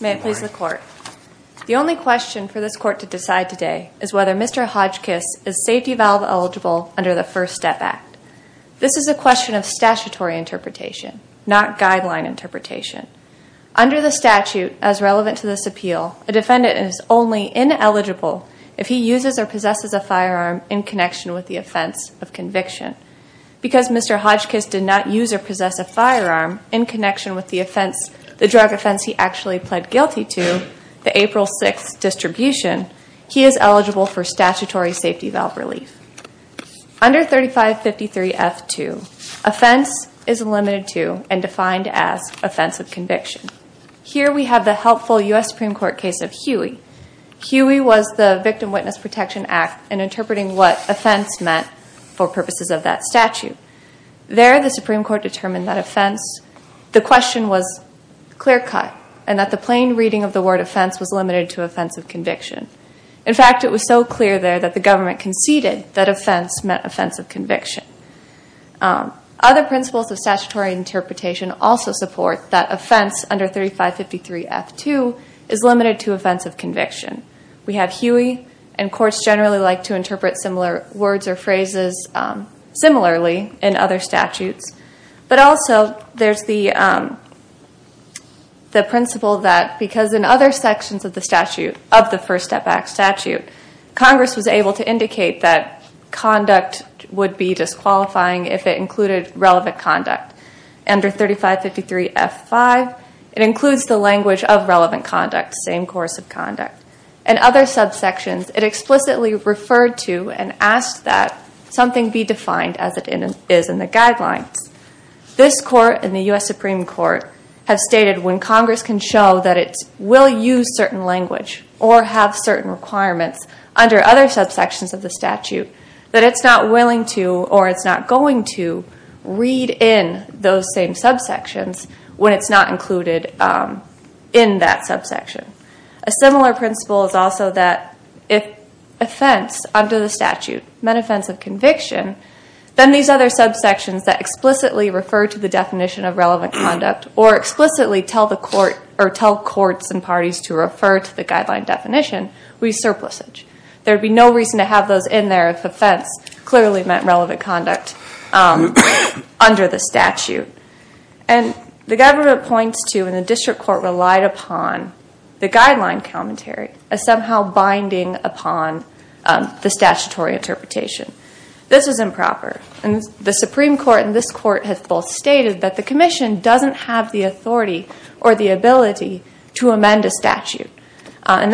The only question for this court to decide today is whether Mr. Hodgkiss is safety valve eligible under the First Step Act. This is a question of statutory interpretation, not guideline interpretation. Under the statute as relevant to this appeal, a defendant is only ineligible if he uses or possesses a firearm in connection with the offense of conviction. Because Mr. Hodgkiss did not use or possess a firearm in connection with the drug offense he actually pled guilty to, the April 6th distribution, he is eligible for statutory safety valve relief. Under 3553F2, offense is limited to and defined as offense of conviction. Here we have the helpful U.S. Supreme Court case of Huey. Huey was the Victim Witness Protection Act in interpreting what offense meant for purposes of that statute. There, the Supreme Court determined that offense, the question was clear cut and that the plain reading of the word offense was limited to offense of conviction. In fact, it was so clear there that the government conceded that offense meant offense of conviction. Other principles of statutory interpretation also support that offense under 3553F2 is limited to offense of conviction. We have Huey, and courts generally like to interpret similar words or phrases similarly in other statutes. But also, there's the principle that because in other sections of the statute, of the First Step Act statute, Congress was able to indicate that conduct would be disqualifying if it included relevant conduct. Under 3553F5, it includes the language of relevant conduct, same course of conduct. In other subsections, it explicitly referred to and asked that something be defined as it is in the guidelines. This court and the U.S. Supreme Court have stated when Congress can show that it will use certain language or have certain requirements under other subsections of the statute, that it's not willing to or it's not going to read in those same subsections when it's not included in that subsection. A similar principle is also that if offense under the statute meant offense of conviction, then these other subsections that explicitly refer to the definition of relevant conduct or explicitly tell courts and parties to refer to the guideline definition would be surplusage. There would be no reason to have those in there if offense clearly meant relevant conduct under the statute. The government points to and the district court relied upon the guideline commentary as somehow binding upon the statutory interpretation. This is improper. The Supreme Court and this court have both stated that the commission doesn't have the authority or the ability to amend a statute. In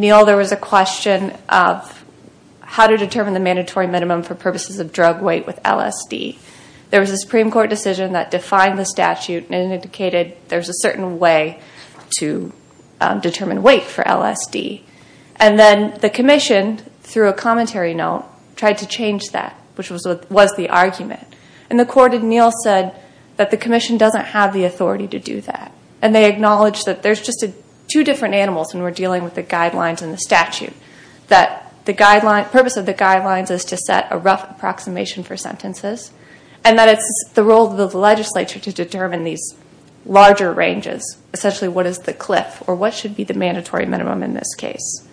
Neal, there was a question of how to determine the mandatory minimum for purposes of drug weight with LSD. There was a Supreme Court decision that defined the statute and indicated there's a certain way to determine weight for LSD. And then the commission, through a commentary note, tried to change that, which was the argument. And the court in Neal said that the commission doesn't have the authority to do that. And they acknowledged that there's just two different animals when we're dealing with the guidelines and the statute, that the purpose of the guidelines is to set a rough approximation for sentences, and that it's the role of the legislature to determine these larger ranges, essentially what is the cliff or what should be the mandatory minimum in this case.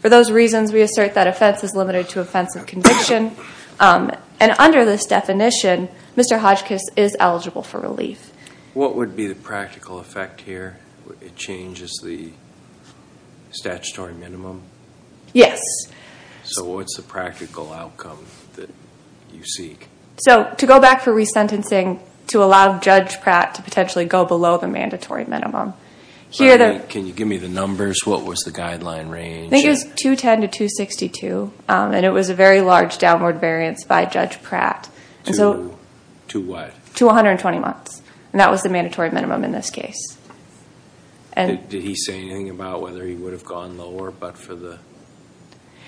For those reasons, we assert that offense is limited to offense of conviction. And under this definition, Mr. Hodgkiss is eligible for relief. What would be the practical effect here? It changes the statutory minimum? Yes. So what's the practical outcome that you seek? So to go back for resentencing, to allow Judge Pratt to potentially go below the mandatory minimum. Can you give me the numbers? What was the guideline range? I think it was 210 to 262, and it was a very large downward variance by Judge Pratt. To what? To 120 months, and that was the mandatory minimum in this case. Did he say anything about whether he would have gone lower but for the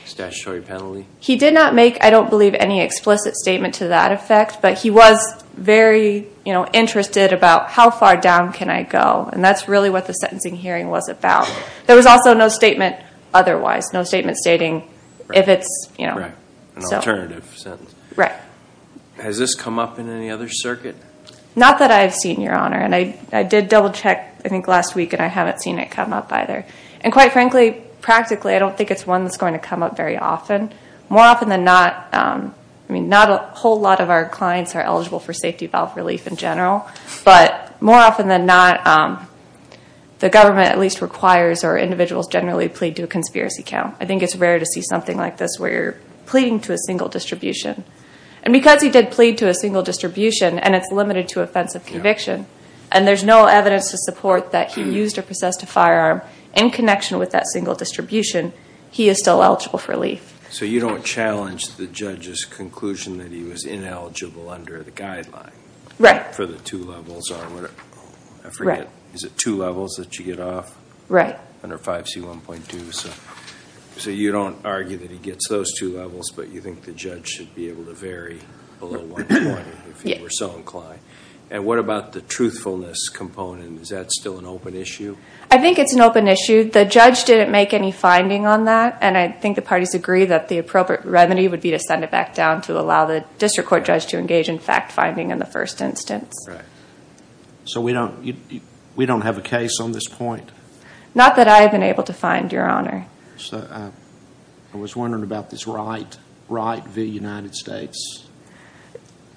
statutory penalty? He did not make, I don't believe, any explicit statement to that effect, but he was very interested about how far down can I go, and that's really what the sentencing hearing was about. There was also no statement otherwise, no statement stating if it's, you know. An alternative sentence. Right. Has this come up in any other circuit? Not that I've seen, Your Honor, and I did double-check, I think, last week, and I haven't seen it come up either. And quite frankly, practically, I don't think it's one that's going to come up very often. More often than not, I mean, not a whole lot of our clients are eligible for safety valve relief in general, but more often than not, the government at least requires or individuals generally plead to a conspiracy count. I think it's rare to see something like this where you're pleading to a single distribution. And because he did plead to a single distribution, and it's limited to offensive conviction, and there's no evidence to support that he used or possessed a firearm in connection with that single distribution, he is still eligible for relief. So you don't challenge the judge's conclusion that he was ineligible under the guideline? Right. For the two levels or whatever. Right. Is it two levels that you get off? Right. Under 5C1.2, so you don't argue that he gets those two levels, but you think the judge should be able to vary below 1.0 if he were so inclined? Yes. And what about the truthfulness component? Is that still an open issue? I think it's an open issue. The judge didn't make any finding on that, and I think the parties agree that the appropriate revenue would be to send it back down to allow the district court judge to engage in fact-finding in the first instance. Right. So we don't have a case on this point? Not that I have been able to find, Your Honor. So I was wondering about this Wright v. United States.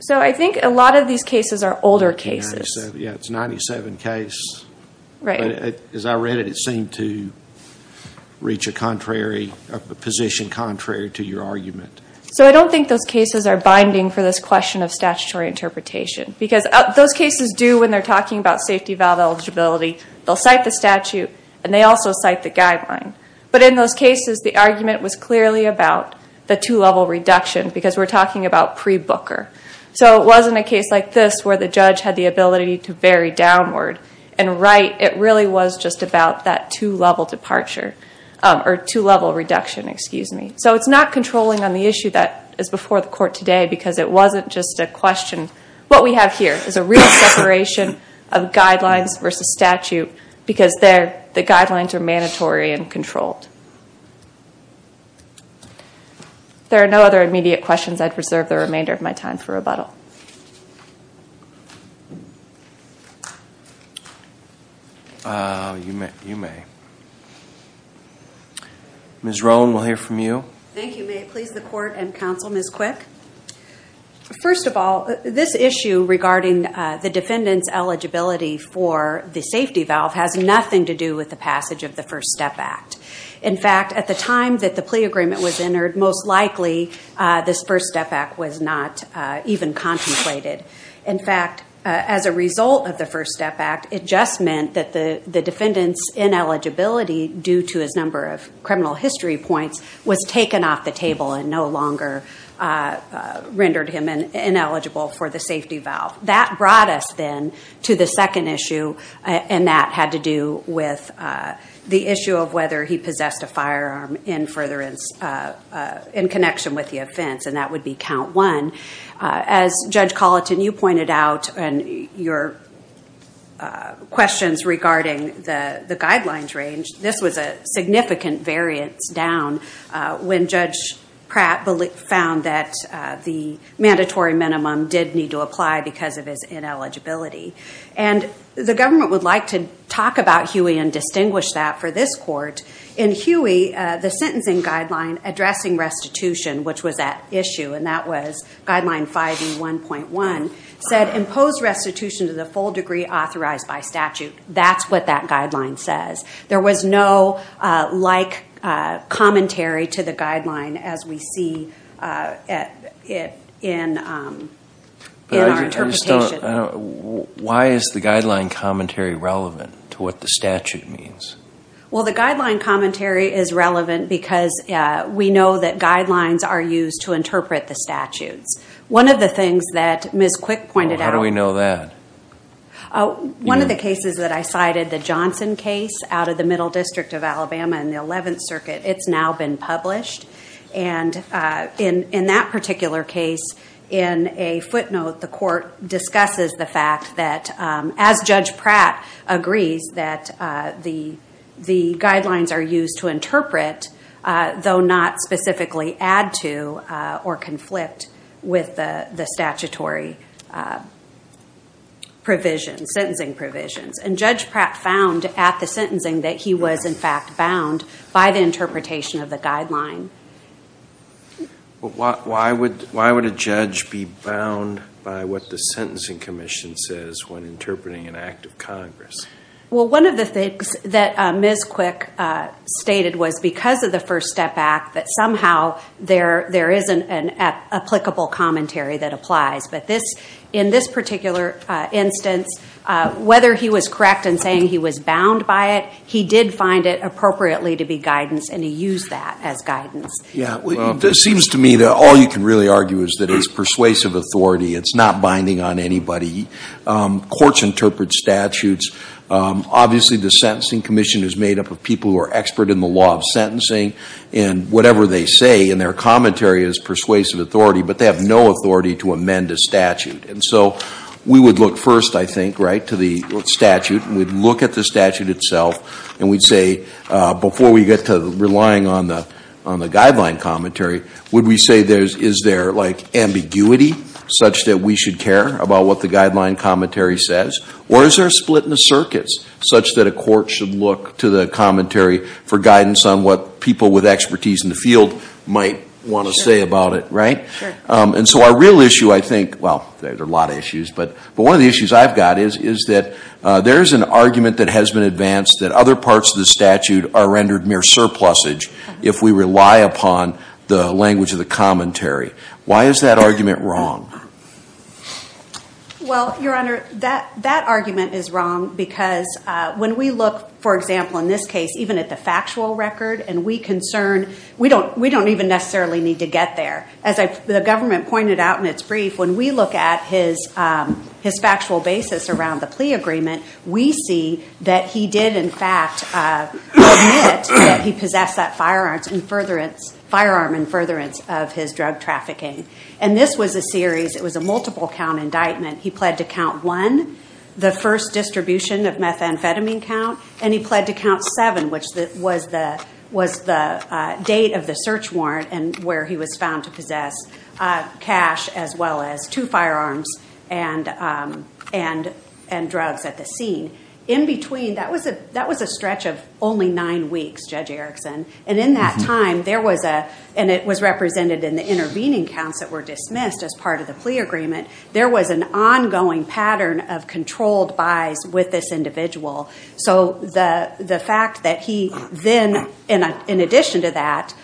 So I think a lot of these cases are older cases. Yeah, it's a 1997 case. Right. As I read it, it seemed to reach a position contrary to your argument. So I don't think those cases are binding for this question of statutory interpretation because those cases do, when they're talking about safety valve eligibility, they'll cite the statute and they also cite the guideline. But in those cases, the argument was clearly about the two-level reduction because we're talking about pre-Booker. So it wasn't a case like this where the judge had the ability to vary downward. And Wright, it really was just about that two-level departure or two-level reduction, excuse me. So it's not controlling on the issue that is before the court today because it wasn't just a question. What we have here is a real separation of guidelines versus statute because the guidelines are mandatory and controlled. If there are no other immediate questions, I'd reserve the remainder of my time for rebuttal. You may. Ms. Roan, we'll hear from you. Thank you. May it please the Court and counsel, Ms. Quick. First of all, this issue regarding the defendant's eligibility for the safety valve has nothing to do with the passage of the First Step Act. In fact, at the time that the plea agreement was entered, most likely this First Step Act was not even contemplated. In fact, as a result of the First Step Act, it just meant that the defendant's ineligibility due to his number of criminal history points was taken off the table and no longer rendered him ineligible for the safety valve. That brought us then to the second issue, and that had to do with the issue of whether he possessed a firearm in connection with the offense, and that would be count one. As Judge Colleton, you pointed out in your questions regarding the guidelines range, this was a significant variance down when Judge Pratt found that the mandatory minimum did need to apply because of his ineligibility. And the government would like to talk about Huey and distinguish that for this court. In Huey, the sentencing guideline addressing restitution, which was at issue, and that was Guideline 5E1.1, said impose restitution to the full degree authorized by statute. That's what that guideline says. There was no like commentary to the guideline as we see it in our interpretation. Why is the guideline commentary relevant to what the statute means? Well, the guideline commentary is relevant because we know that guidelines are used to interpret the statutes. One of the things that Ms. Quick pointed out— How do we know that? One of the cases that I cited, the Johnson case out of the Middle District of Alabama in the 11th Circuit, it's now been published. And in that particular case, in a footnote, the court discusses the fact that, as Judge Pratt agrees, that the guidelines are used to interpret, though not specifically add to or conflict with the statutory provisions, sentencing provisions. And Judge Pratt found at the sentencing that he was, in fact, bound by the interpretation of the guideline. Why would a judge be bound by what the Sentencing Commission says when interpreting an act of Congress? Well, one of the things that Ms. Quick stated was because of the First Step Act, that somehow there isn't an applicable commentary that applies. But in this particular instance, whether he was correct in saying he was bound by it, he did find it appropriately to be guidance, and he used that as guidance. It seems to me that all you can really argue is that it's persuasive authority. It's not binding on anybody. Courts interpret statutes. Obviously, the Sentencing Commission is made up of people who are expert in the law of sentencing, and whatever they say in their commentary is persuasive authority, but they have no authority to amend a statute. And so we would look first, I think, right, to the statute, and we'd look at the statute itself, and we'd say, before we get to relying on the guideline commentary, would we say is there, like, ambiguity such that we should care about what the guideline commentary says, or is there a split in the circuits such that a court should look to the commentary for guidance on what people with expertise in the field might want to say about it, right? And so our real issue, I think, well, there are a lot of issues, but one of the issues I've got is that there is an argument that has been advanced that other parts of the statute are rendered mere surplusage if we rely upon the language of the commentary. Why is that argument wrong? Well, Your Honor, that argument is wrong because when we look, for example, in this case, even at the factual record, and we concern, we don't even necessarily need to get there. As the government pointed out in its brief, when we look at his factual basis around the plea agreement, we see that he did, in fact, admit that he possessed that firearm in furtherance of his drug trafficking. And this was a series, it was a multiple count indictment. He pled to count one, the first distribution of methamphetamine count, and he pled to count seven, which was the date of the search warrant and where he was found to possess cash as well as two firearms and drugs at the scene. In between, that was a stretch of only nine weeks, Judge Erickson, and in that time there was a, and it was represented in the intervening counts that were dismissed as part of the plea agreement, there was an ongoing pattern of controlled buys with this individual. So the fact that he then, in addition to that,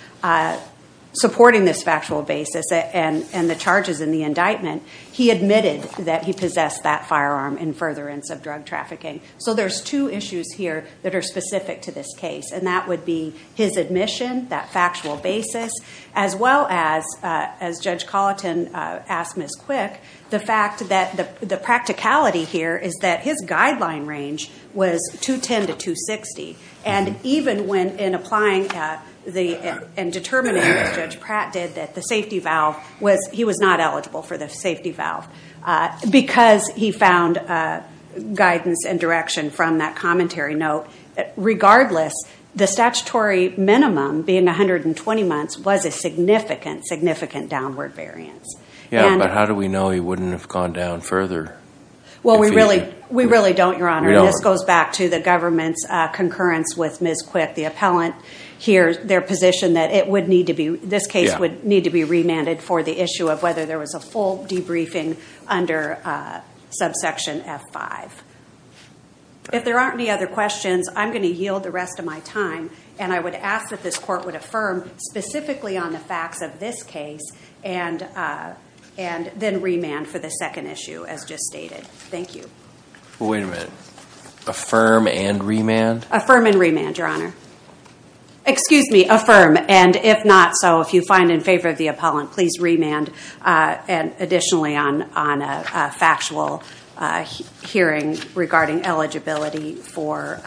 supporting this factual basis and the charges in the indictment, he admitted that he possessed that firearm in furtherance of drug trafficking. So there's two issues here that are specific to this case, and that would be his admission, that factual basis, as well as, as Judge Colleton asked Ms. Quick, the fact that the practicality here is that his guideline range was 210 to 260. And even when, in applying and determining, as Judge Pratt did, that the safety valve was, he was not eligible for the safety valve because he found guidance and direction from that commentary note. Regardless, the statutory minimum being 120 months was a significant, significant downward variance. Yeah, but how do we know he wouldn't have gone down further? Well, we really don't, Your Honor. This goes back to the government's concurrence with Ms. Quick, the appellant, their position that it would need to be, this case would need to be remanded for the issue of whether there was a full debriefing under subsection F5. If there aren't any other questions, I'm going to yield the rest of my time, and I would ask that this court would affirm specifically on the facts of this case, and then remand for the second issue, as just stated. Thank you. Wait a minute. Affirm and remand? Affirm and remand, Your Honor. Excuse me. Affirm, and if not so, if you find in favor of the appellant, please remand additionally on a factual hearing regarding eligibility for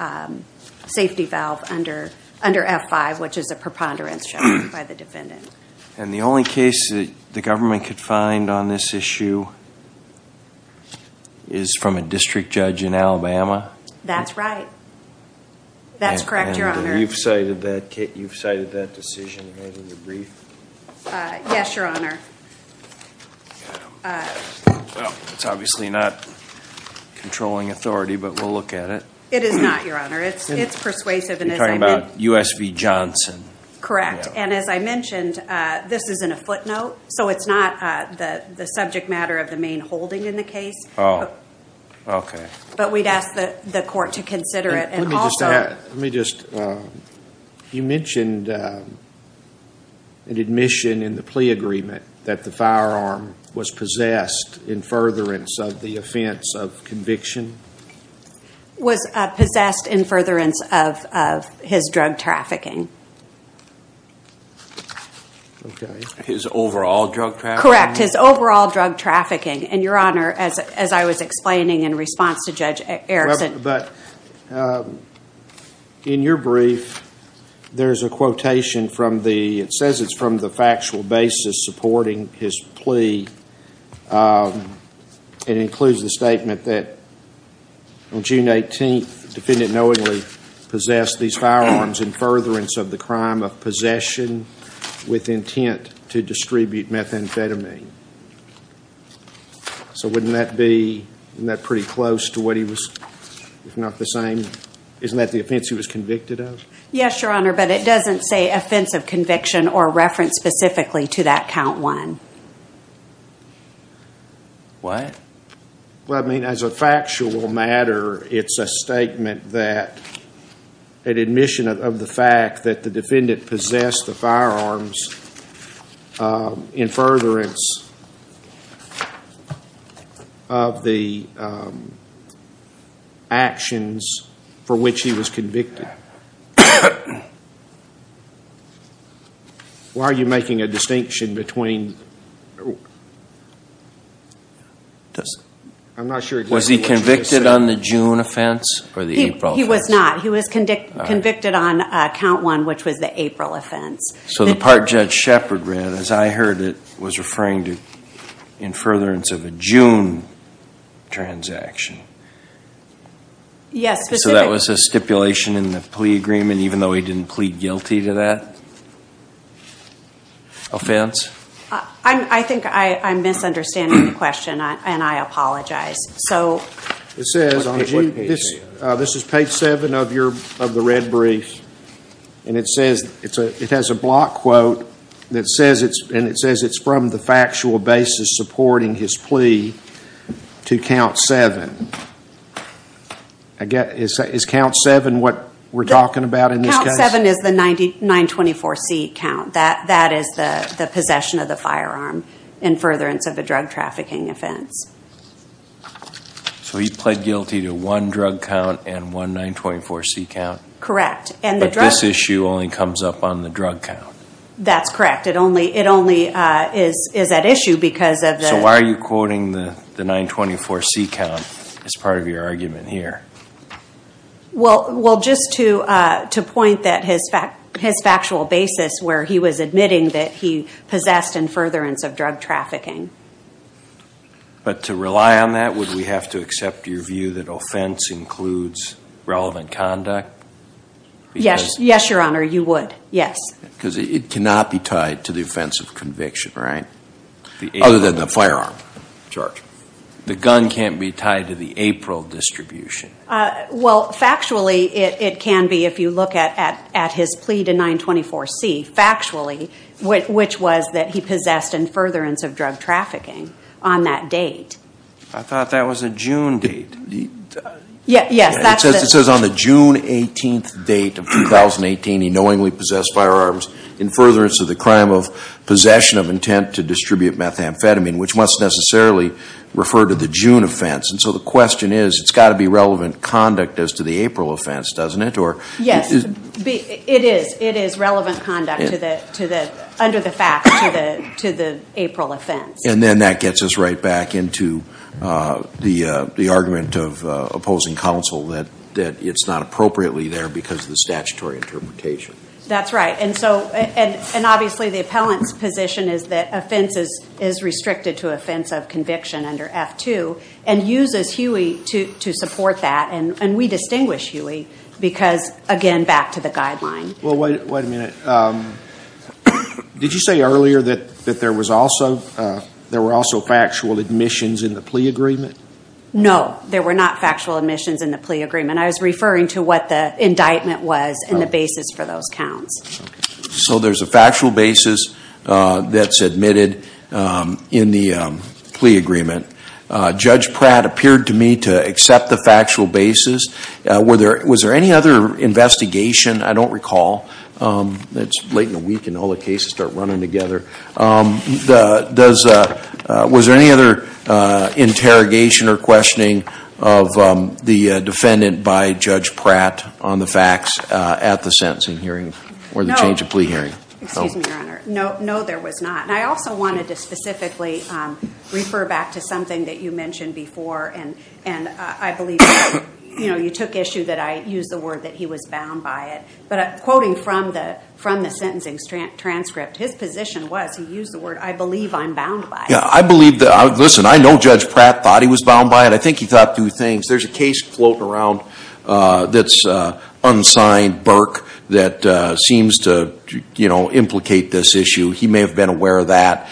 safety valve under F5, which is a preponderance shown by the defendant. And the only case that the government could find on this issue is from a district judge in Alabama? That's right. That's correct, Your Honor. And you've cited that decision in the debrief? Yes, Your Honor. Well, it's obviously not controlling authority, but we'll look at it. It is not, Your Honor. It's persuasive. You're talking about U.S. v. Johnson. Correct, and as I mentioned, this is in a footnote, so it's not the subject matter of the main holding in the case. Oh, okay. But we'd ask the court to consider it. Let me just add, you mentioned an admission in the plea agreement that the firearm was possessed in furtherance of the offense of conviction? Was possessed in furtherance of his drug trafficking. His overall drug trafficking? Correct, his overall drug trafficking. And, Your Honor, as I was explaining in response to Judge Erickson But in your brief, there's a quotation from the, it says it's from the factual basis supporting his plea. It includes the statement that on June 18th, the defendant knowingly possessed these firearms in furtherance of the crime of possession with intent to distribute methamphetamine. So wouldn't that be, isn't that pretty close to what he was, if not the same, isn't that the offense he was convicted of? Yes, Your Honor, but it doesn't say offense of conviction or reference specifically to that count one. What? Well, I mean, as a factual matter, it's a statement that, an admission of the fact that the defendant possessed the firearms in furtherance of the actions for which he was convicted. All right. Why are you making a distinction between? I'm not sure. Was he convicted on the June offense or the April offense? He was not. He was convicted on count one, which was the April offense. So the part Judge Shepard read, as I heard it, was referring to in furtherance of a June transaction. Yes, specifically. So that was a stipulation in the plea agreement, even though he didn't plead guilty to that offense? I think I'm misunderstanding the question, and I apologize. So what page are you on? This is page seven of the red brief, and it says, it has a block quote, and it says it's from the factual basis supporting his plea to count seven. Is count seven what we're talking about in this case? Count seven is the 924C count. That is the possession of the firearm in furtherance of a drug trafficking offense. So he pled guilty to one drug count and one 924C count? Correct. But this issue only comes up on the drug count? That's correct. It only is at issue because of the – It's part of your argument here. Well, just to point that his factual basis, where he was admitting that he possessed in furtherance of drug trafficking. But to rely on that, would we have to accept your view that offense includes relevant conduct? Yes, Your Honor, you would, yes. Because it cannot be tied to the offense of conviction, right? Other than the firearm charge. The gun can't be tied to the April distribution. Well, factually, it can be if you look at his plea to 924C, factually, which was that he possessed in furtherance of drug trafficking on that date. I thought that was a June date. Yes, that's the – It says on the June 18th date of 2018, he knowingly possessed firearms in furtherance of the crime of possession of intent to distribute methamphetamine, which must necessarily refer to the June offense. And so the question is, it's got to be relevant conduct as to the April offense, doesn't it? Yes, it is. It is relevant conduct under the facts to the April offense. And then that gets us right back into the argument of opposing counsel that it's not appropriately there because of the statutory interpretation. That's right. And obviously, the appellant's position is that offense is restricted to offense of conviction under F-2 and uses Huey to support that. And we distinguish Huey because, again, back to the guideline. Well, wait a minute. Did you say earlier that there were also factual admissions in the plea agreement? No, there were not factual admissions in the plea agreement. I was referring to what the indictment was and the basis for those counts. So there's a factual basis that's admitted in the plea agreement. Judge Pratt appeared to me to accept the factual basis. Was there any other investigation? I don't recall. It's late in the week and all the cases start running together. Was there any other interrogation or questioning of the defendant by Judge Pratt on the facts at the sentencing hearing or the change of plea hearing? Excuse me, Your Honor. No, there was not. And I also wanted to specifically refer back to something that you mentioned before. And I believe you took issue that I used the word that he was bound by it. But quoting from the sentencing transcript, his position was he used the word, I believe I'm bound by it. Yeah, I believe that. Listen, I know Judge Pratt thought he was bound by it. I think he thought two things. There's a case floating around that's unsigned, Burke, that seems to implicate this issue. He may have been aware of that.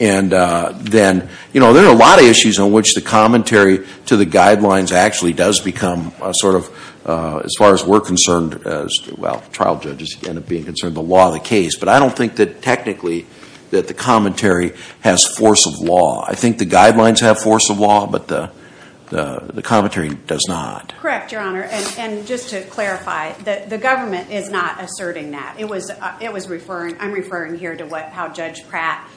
And then, you know, there are a lot of issues on which the commentary to the guidelines actually does become sort of, as far as we're concerned, well, trial judges end up being concerned, the law of the case. But I don't think that technically that the commentary has force of law. I think the guidelines have force of law, but the commentary does not. Correct, Your Honor. And just to clarify, the government is not asserting that. I'm referring here to how Judge Pratt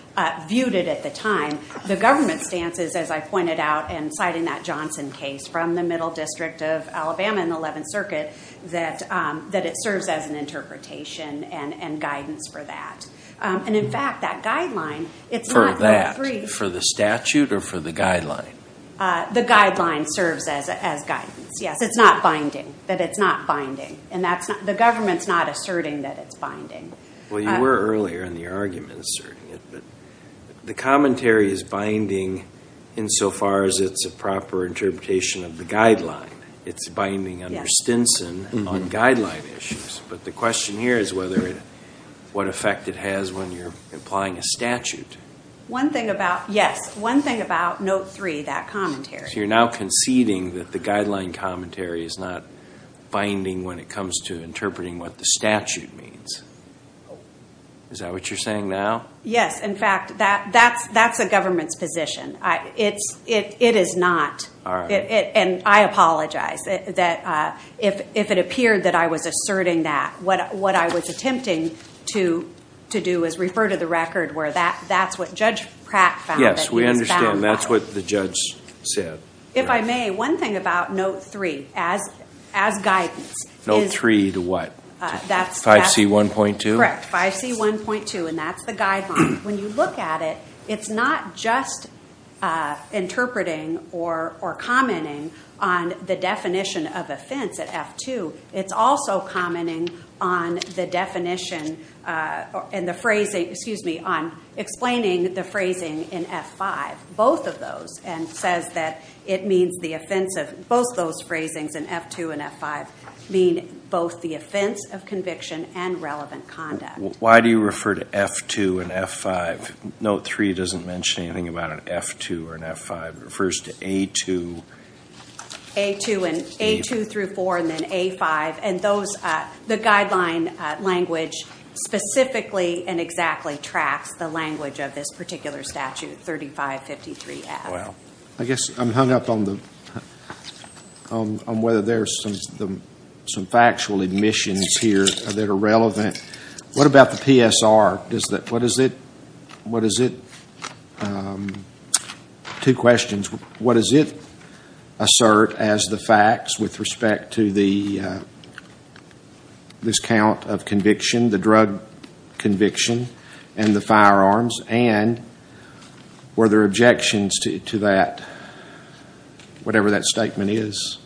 viewed it at the time. The government's stance is, as I pointed out in citing that Johnson case from the Middle District of Alabama in the 11th Circuit, that it serves as an interpretation and guidance for that. And, in fact, that guideline, it's not free. For that, for the statute or for the guideline? The guideline serves as guidance, yes. It's not binding, that it's not binding. And the government's not asserting that it's binding. Well, you were earlier in the argument asserting it, but the commentary is binding insofar as it's a proper interpretation of the guideline. It's binding under Stinson on guideline issues. But the question here is what effect it has when you're applying a statute. One thing about, yes, one thing about Note 3, that commentary. So you're now conceding that the guideline commentary is not binding when it comes to interpreting what the statute means. Is that what you're saying now? Yes. In fact, that's the government's position. It is not. And I apologize if it appeared that I was asserting that. What I was attempting to do is refer to the record where that's what Judge Pratt found that he was bound by. Yes, we understand. That's what the judge said. If I may, one thing about Note 3 as guidance. Note 3 to what? 5C1.2? Correct. 5C1.2. And that's the guideline. When you look at it, it's not just interpreting or commenting on the definition of offense at F2. It's also commenting on the definition and the phrasing, excuse me, on explaining the phrasing in F5, both of those, and says that it means the offense of both those phrasings in F2 and F5 mean both the offense of conviction and relevant conduct. Why do you refer to F2 and F5? Note 3 doesn't mention anything about an F2 or an F5. It refers to A2. A2 through 4 and then A5. And the guideline language specifically and exactly tracks the language of this particular statute, 3553F. I guess I'm hung up on whether there's some factual admissions here that are relevant. What about the PSR? What does it, two questions. What does it assert as the facts with respect to the discount of conviction, the drug conviction and the firearms? And were there objections to that, whatever that statement is?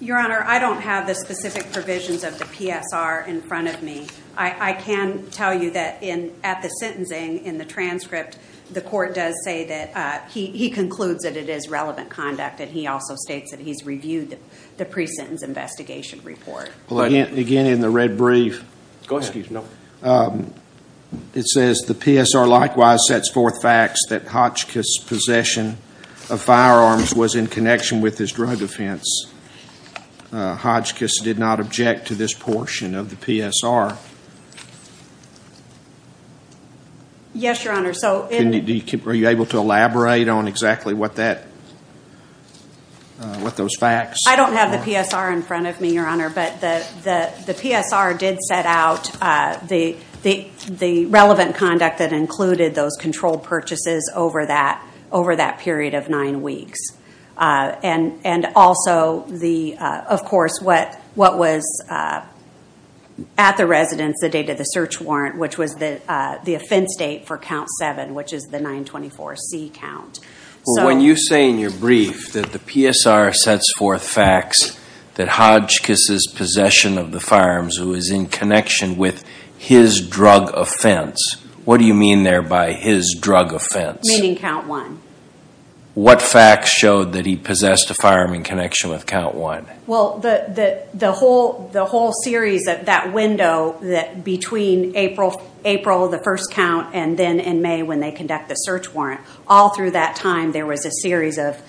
Your Honor, I don't have the specific provisions of the PSR in front of me. I can tell you that at the sentencing, in the transcript, the court does say that he concludes that it is relevant conduct, and he also states that he's reviewed the pre-sentence investigation report. Again, in the red brief, it says, The PSR likewise sets forth facts that Hotchkiss' possession of firearms was in connection with his drug offense. Hotchkiss did not object to this portion of the PSR. Yes, Your Honor. Are you able to elaborate on exactly what those facts are? I don't have the PSR in front of me, Your Honor, but the PSR did set out the relevant conduct that included those controlled purchases over that period of nine weeks. And also, of course, what was at the residence, the date of the search warrant, which was the offense date for count seven, which is the 924C count. Well, when you say in your brief that the PSR sets forth facts that Hotchkiss' possession of the firearms was in connection with his drug offense, what do you mean there by his drug offense? Meaning count one. What facts showed that he possessed a firearm in connection with count one? Well, the whole series of that window between April, the first count, and then in May when they conduct the search warrant, all through that time there was a series of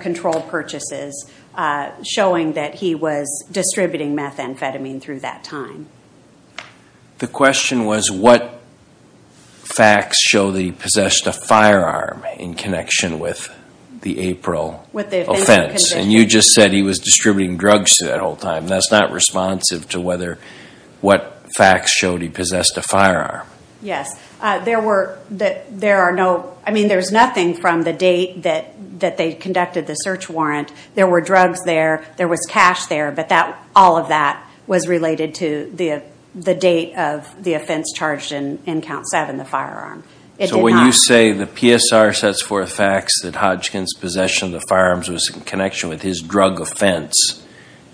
controlled purchases showing that he was distributing methamphetamine through that time. The question was what facts show that he possessed a firearm in connection with the April offense. And you just said he was distributing drugs through that whole time. That's not responsive to what facts showed he possessed a firearm. Yes. There's nothing from the date that they conducted the search warrant. There were drugs there. There was cash there. But all of that was related to the date of the offense charged in count seven, the firearm. So when you say the PSR sets forth facts that Hotchkiss' possession of the firearms was in connection with his drug offense,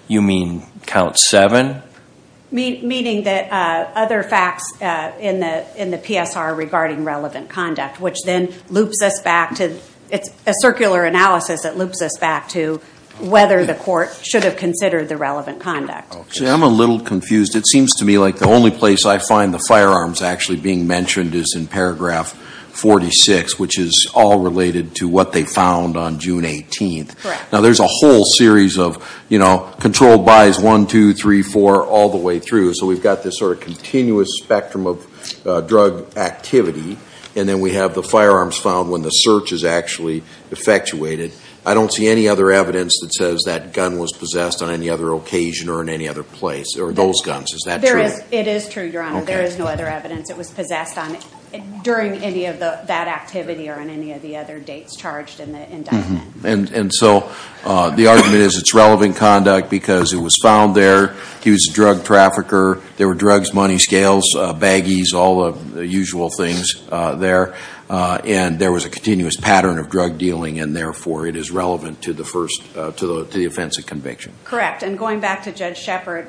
you mean count seven? Meaning that other facts in the PSR regarding relevant conduct, which then loops us back to a circular analysis that loops us back to whether the court should have considered the relevant conduct. I'm a little confused. It seems to me like the only place I find the firearms actually being mentioned is in paragraph 46, which is all related to what they found on June 18th. Now there's a whole series of controlled by's, one, two, three, four, all the way through. So we've got this sort of continuous spectrum of drug activity. And then we have the firearms found when the search is actually effectuated. I don't see any other evidence that says that gun was possessed on any other occasion or in any other place or those guns. Is that true? It is true, Your Honor. There is no other evidence it was possessed on during any of that activity or on any of the other dates charged in the indictment. And so the argument is it's relevant conduct because it was found there. He was a drug trafficker. There were drugs, money scales, baggies, all the usual things there. And there was a continuous pattern of drug dealing, and therefore it is relevant to the offense of conviction. Correct. And going back to Judge Shepard,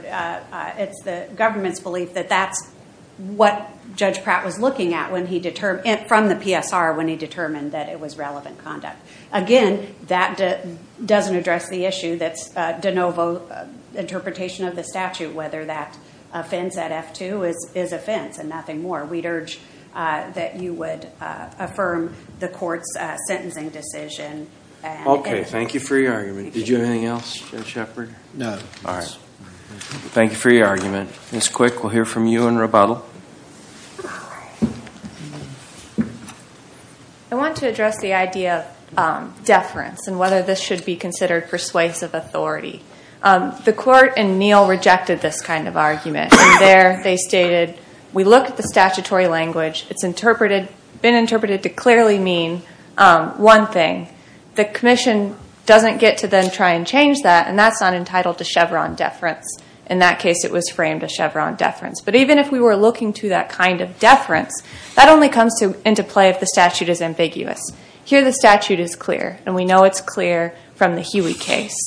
it's the government's belief that that's what Judge Pratt was looking at from the PSR when he determined that it was relevant conduct. Again, that doesn't address the issue that's de novo interpretation of the statute, whether that offense at F-2 is offense and nothing more. We'd urge that you would affirm the court's sentencing decision. Okay. Thank you for your argument. Did you have anything else, Judge Shepard? No. All right. Thank you for your argument. Ms. Quick, we'll hear from you in rebuttal. All right. I want to address the idea of deference and whether this should be considered persuasive authority. The court in Neal rejected this kind of argument. There they stated, we look at the statutory language. It's been interpreted to clearly mean one thing. The commission doesn't get to then try and change that, and that's not entitled to Chevron deference. In that case, it was framed as Chevron deference. But even if we were looking to that kind of deference, that only comes into play if the statute is ambiguous. Here the statute is clear, and we know it's clear from the Huey case.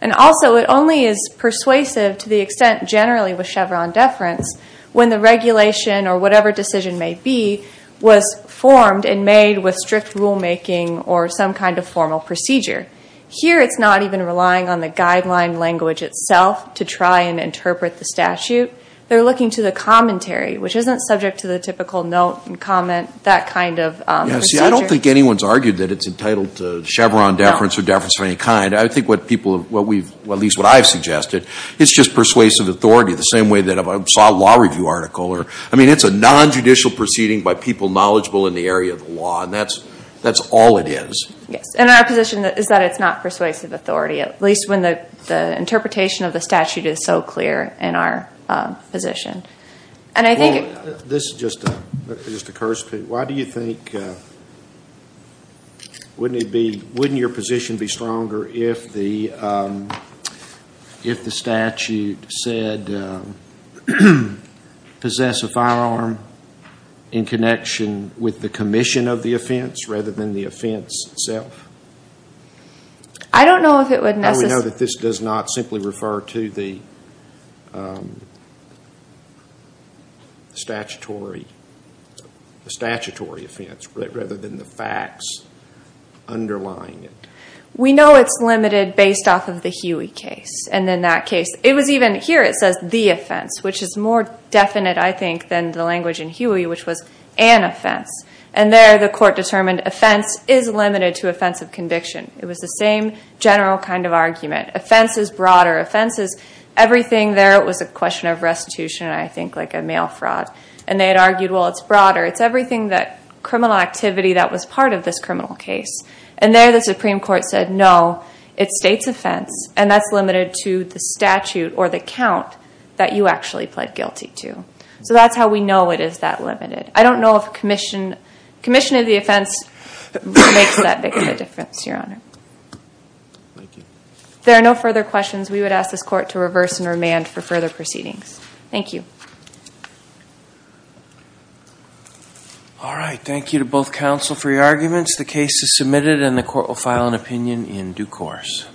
And also, it only is persuasive to the extent generally with Chevron deference when the regulation or whatever decision may be was formed and made with strict rulemaking or some kind of formal procedure. Here it's not even relying on the guideline language itself to try and interpret the statute. They're looking to the commentary, which isn't subject to the typical note and comment, that kind of procedure. See, I don't think anyone's argued that it's entitled to Chevron deference or deference of any kind. I think what people, at least what I've suggested, it's just persuasive authority, the same way that I saw a law review article. I mean, it's a nonjudicial proceeding by people knowledgeable in the area of the law, and that's all it is. Yes, and our position is that it's not persuasive authority, at least when the interpretation of the statute is so clear in our position. This just occurs to me. Why do you think, wouldn't your position be stronger if the statute said, possess a firearm in connection with the commission of the offense rather than the offense itself? I don't know if it would necessarily... No, we know that this does not simply refer to the statutory offense rather than the facts underlying it. We know it's limited based off of the Huey case and then that case. It was even, here it says the offense, which is more definite, I think, than the language in Huey, which was an offense. And there the court determined offense is limited to offense of conviction. It was the same general kind of argument. Offense is broader. Offense is everything there. It was a question of restitution, I think, like a mail fraud. And they had argued, well, it's broader. It's everything that criminal activity that was part of this criminal case. And there the Supreme Court said, no, it states offense, and that's limited to the statute or the count that you actually pled guilty to. So that's how we know it is that limited. I don't know if commission of the offense makes that big of a difference, Your Honor. Thank you. If there are no further questions, we would ask this court to reverse and remand for further proceedings. Thank you. All right. Thank you to both counsel for your arguments. The case is submitted and the court will file an opinion in due course.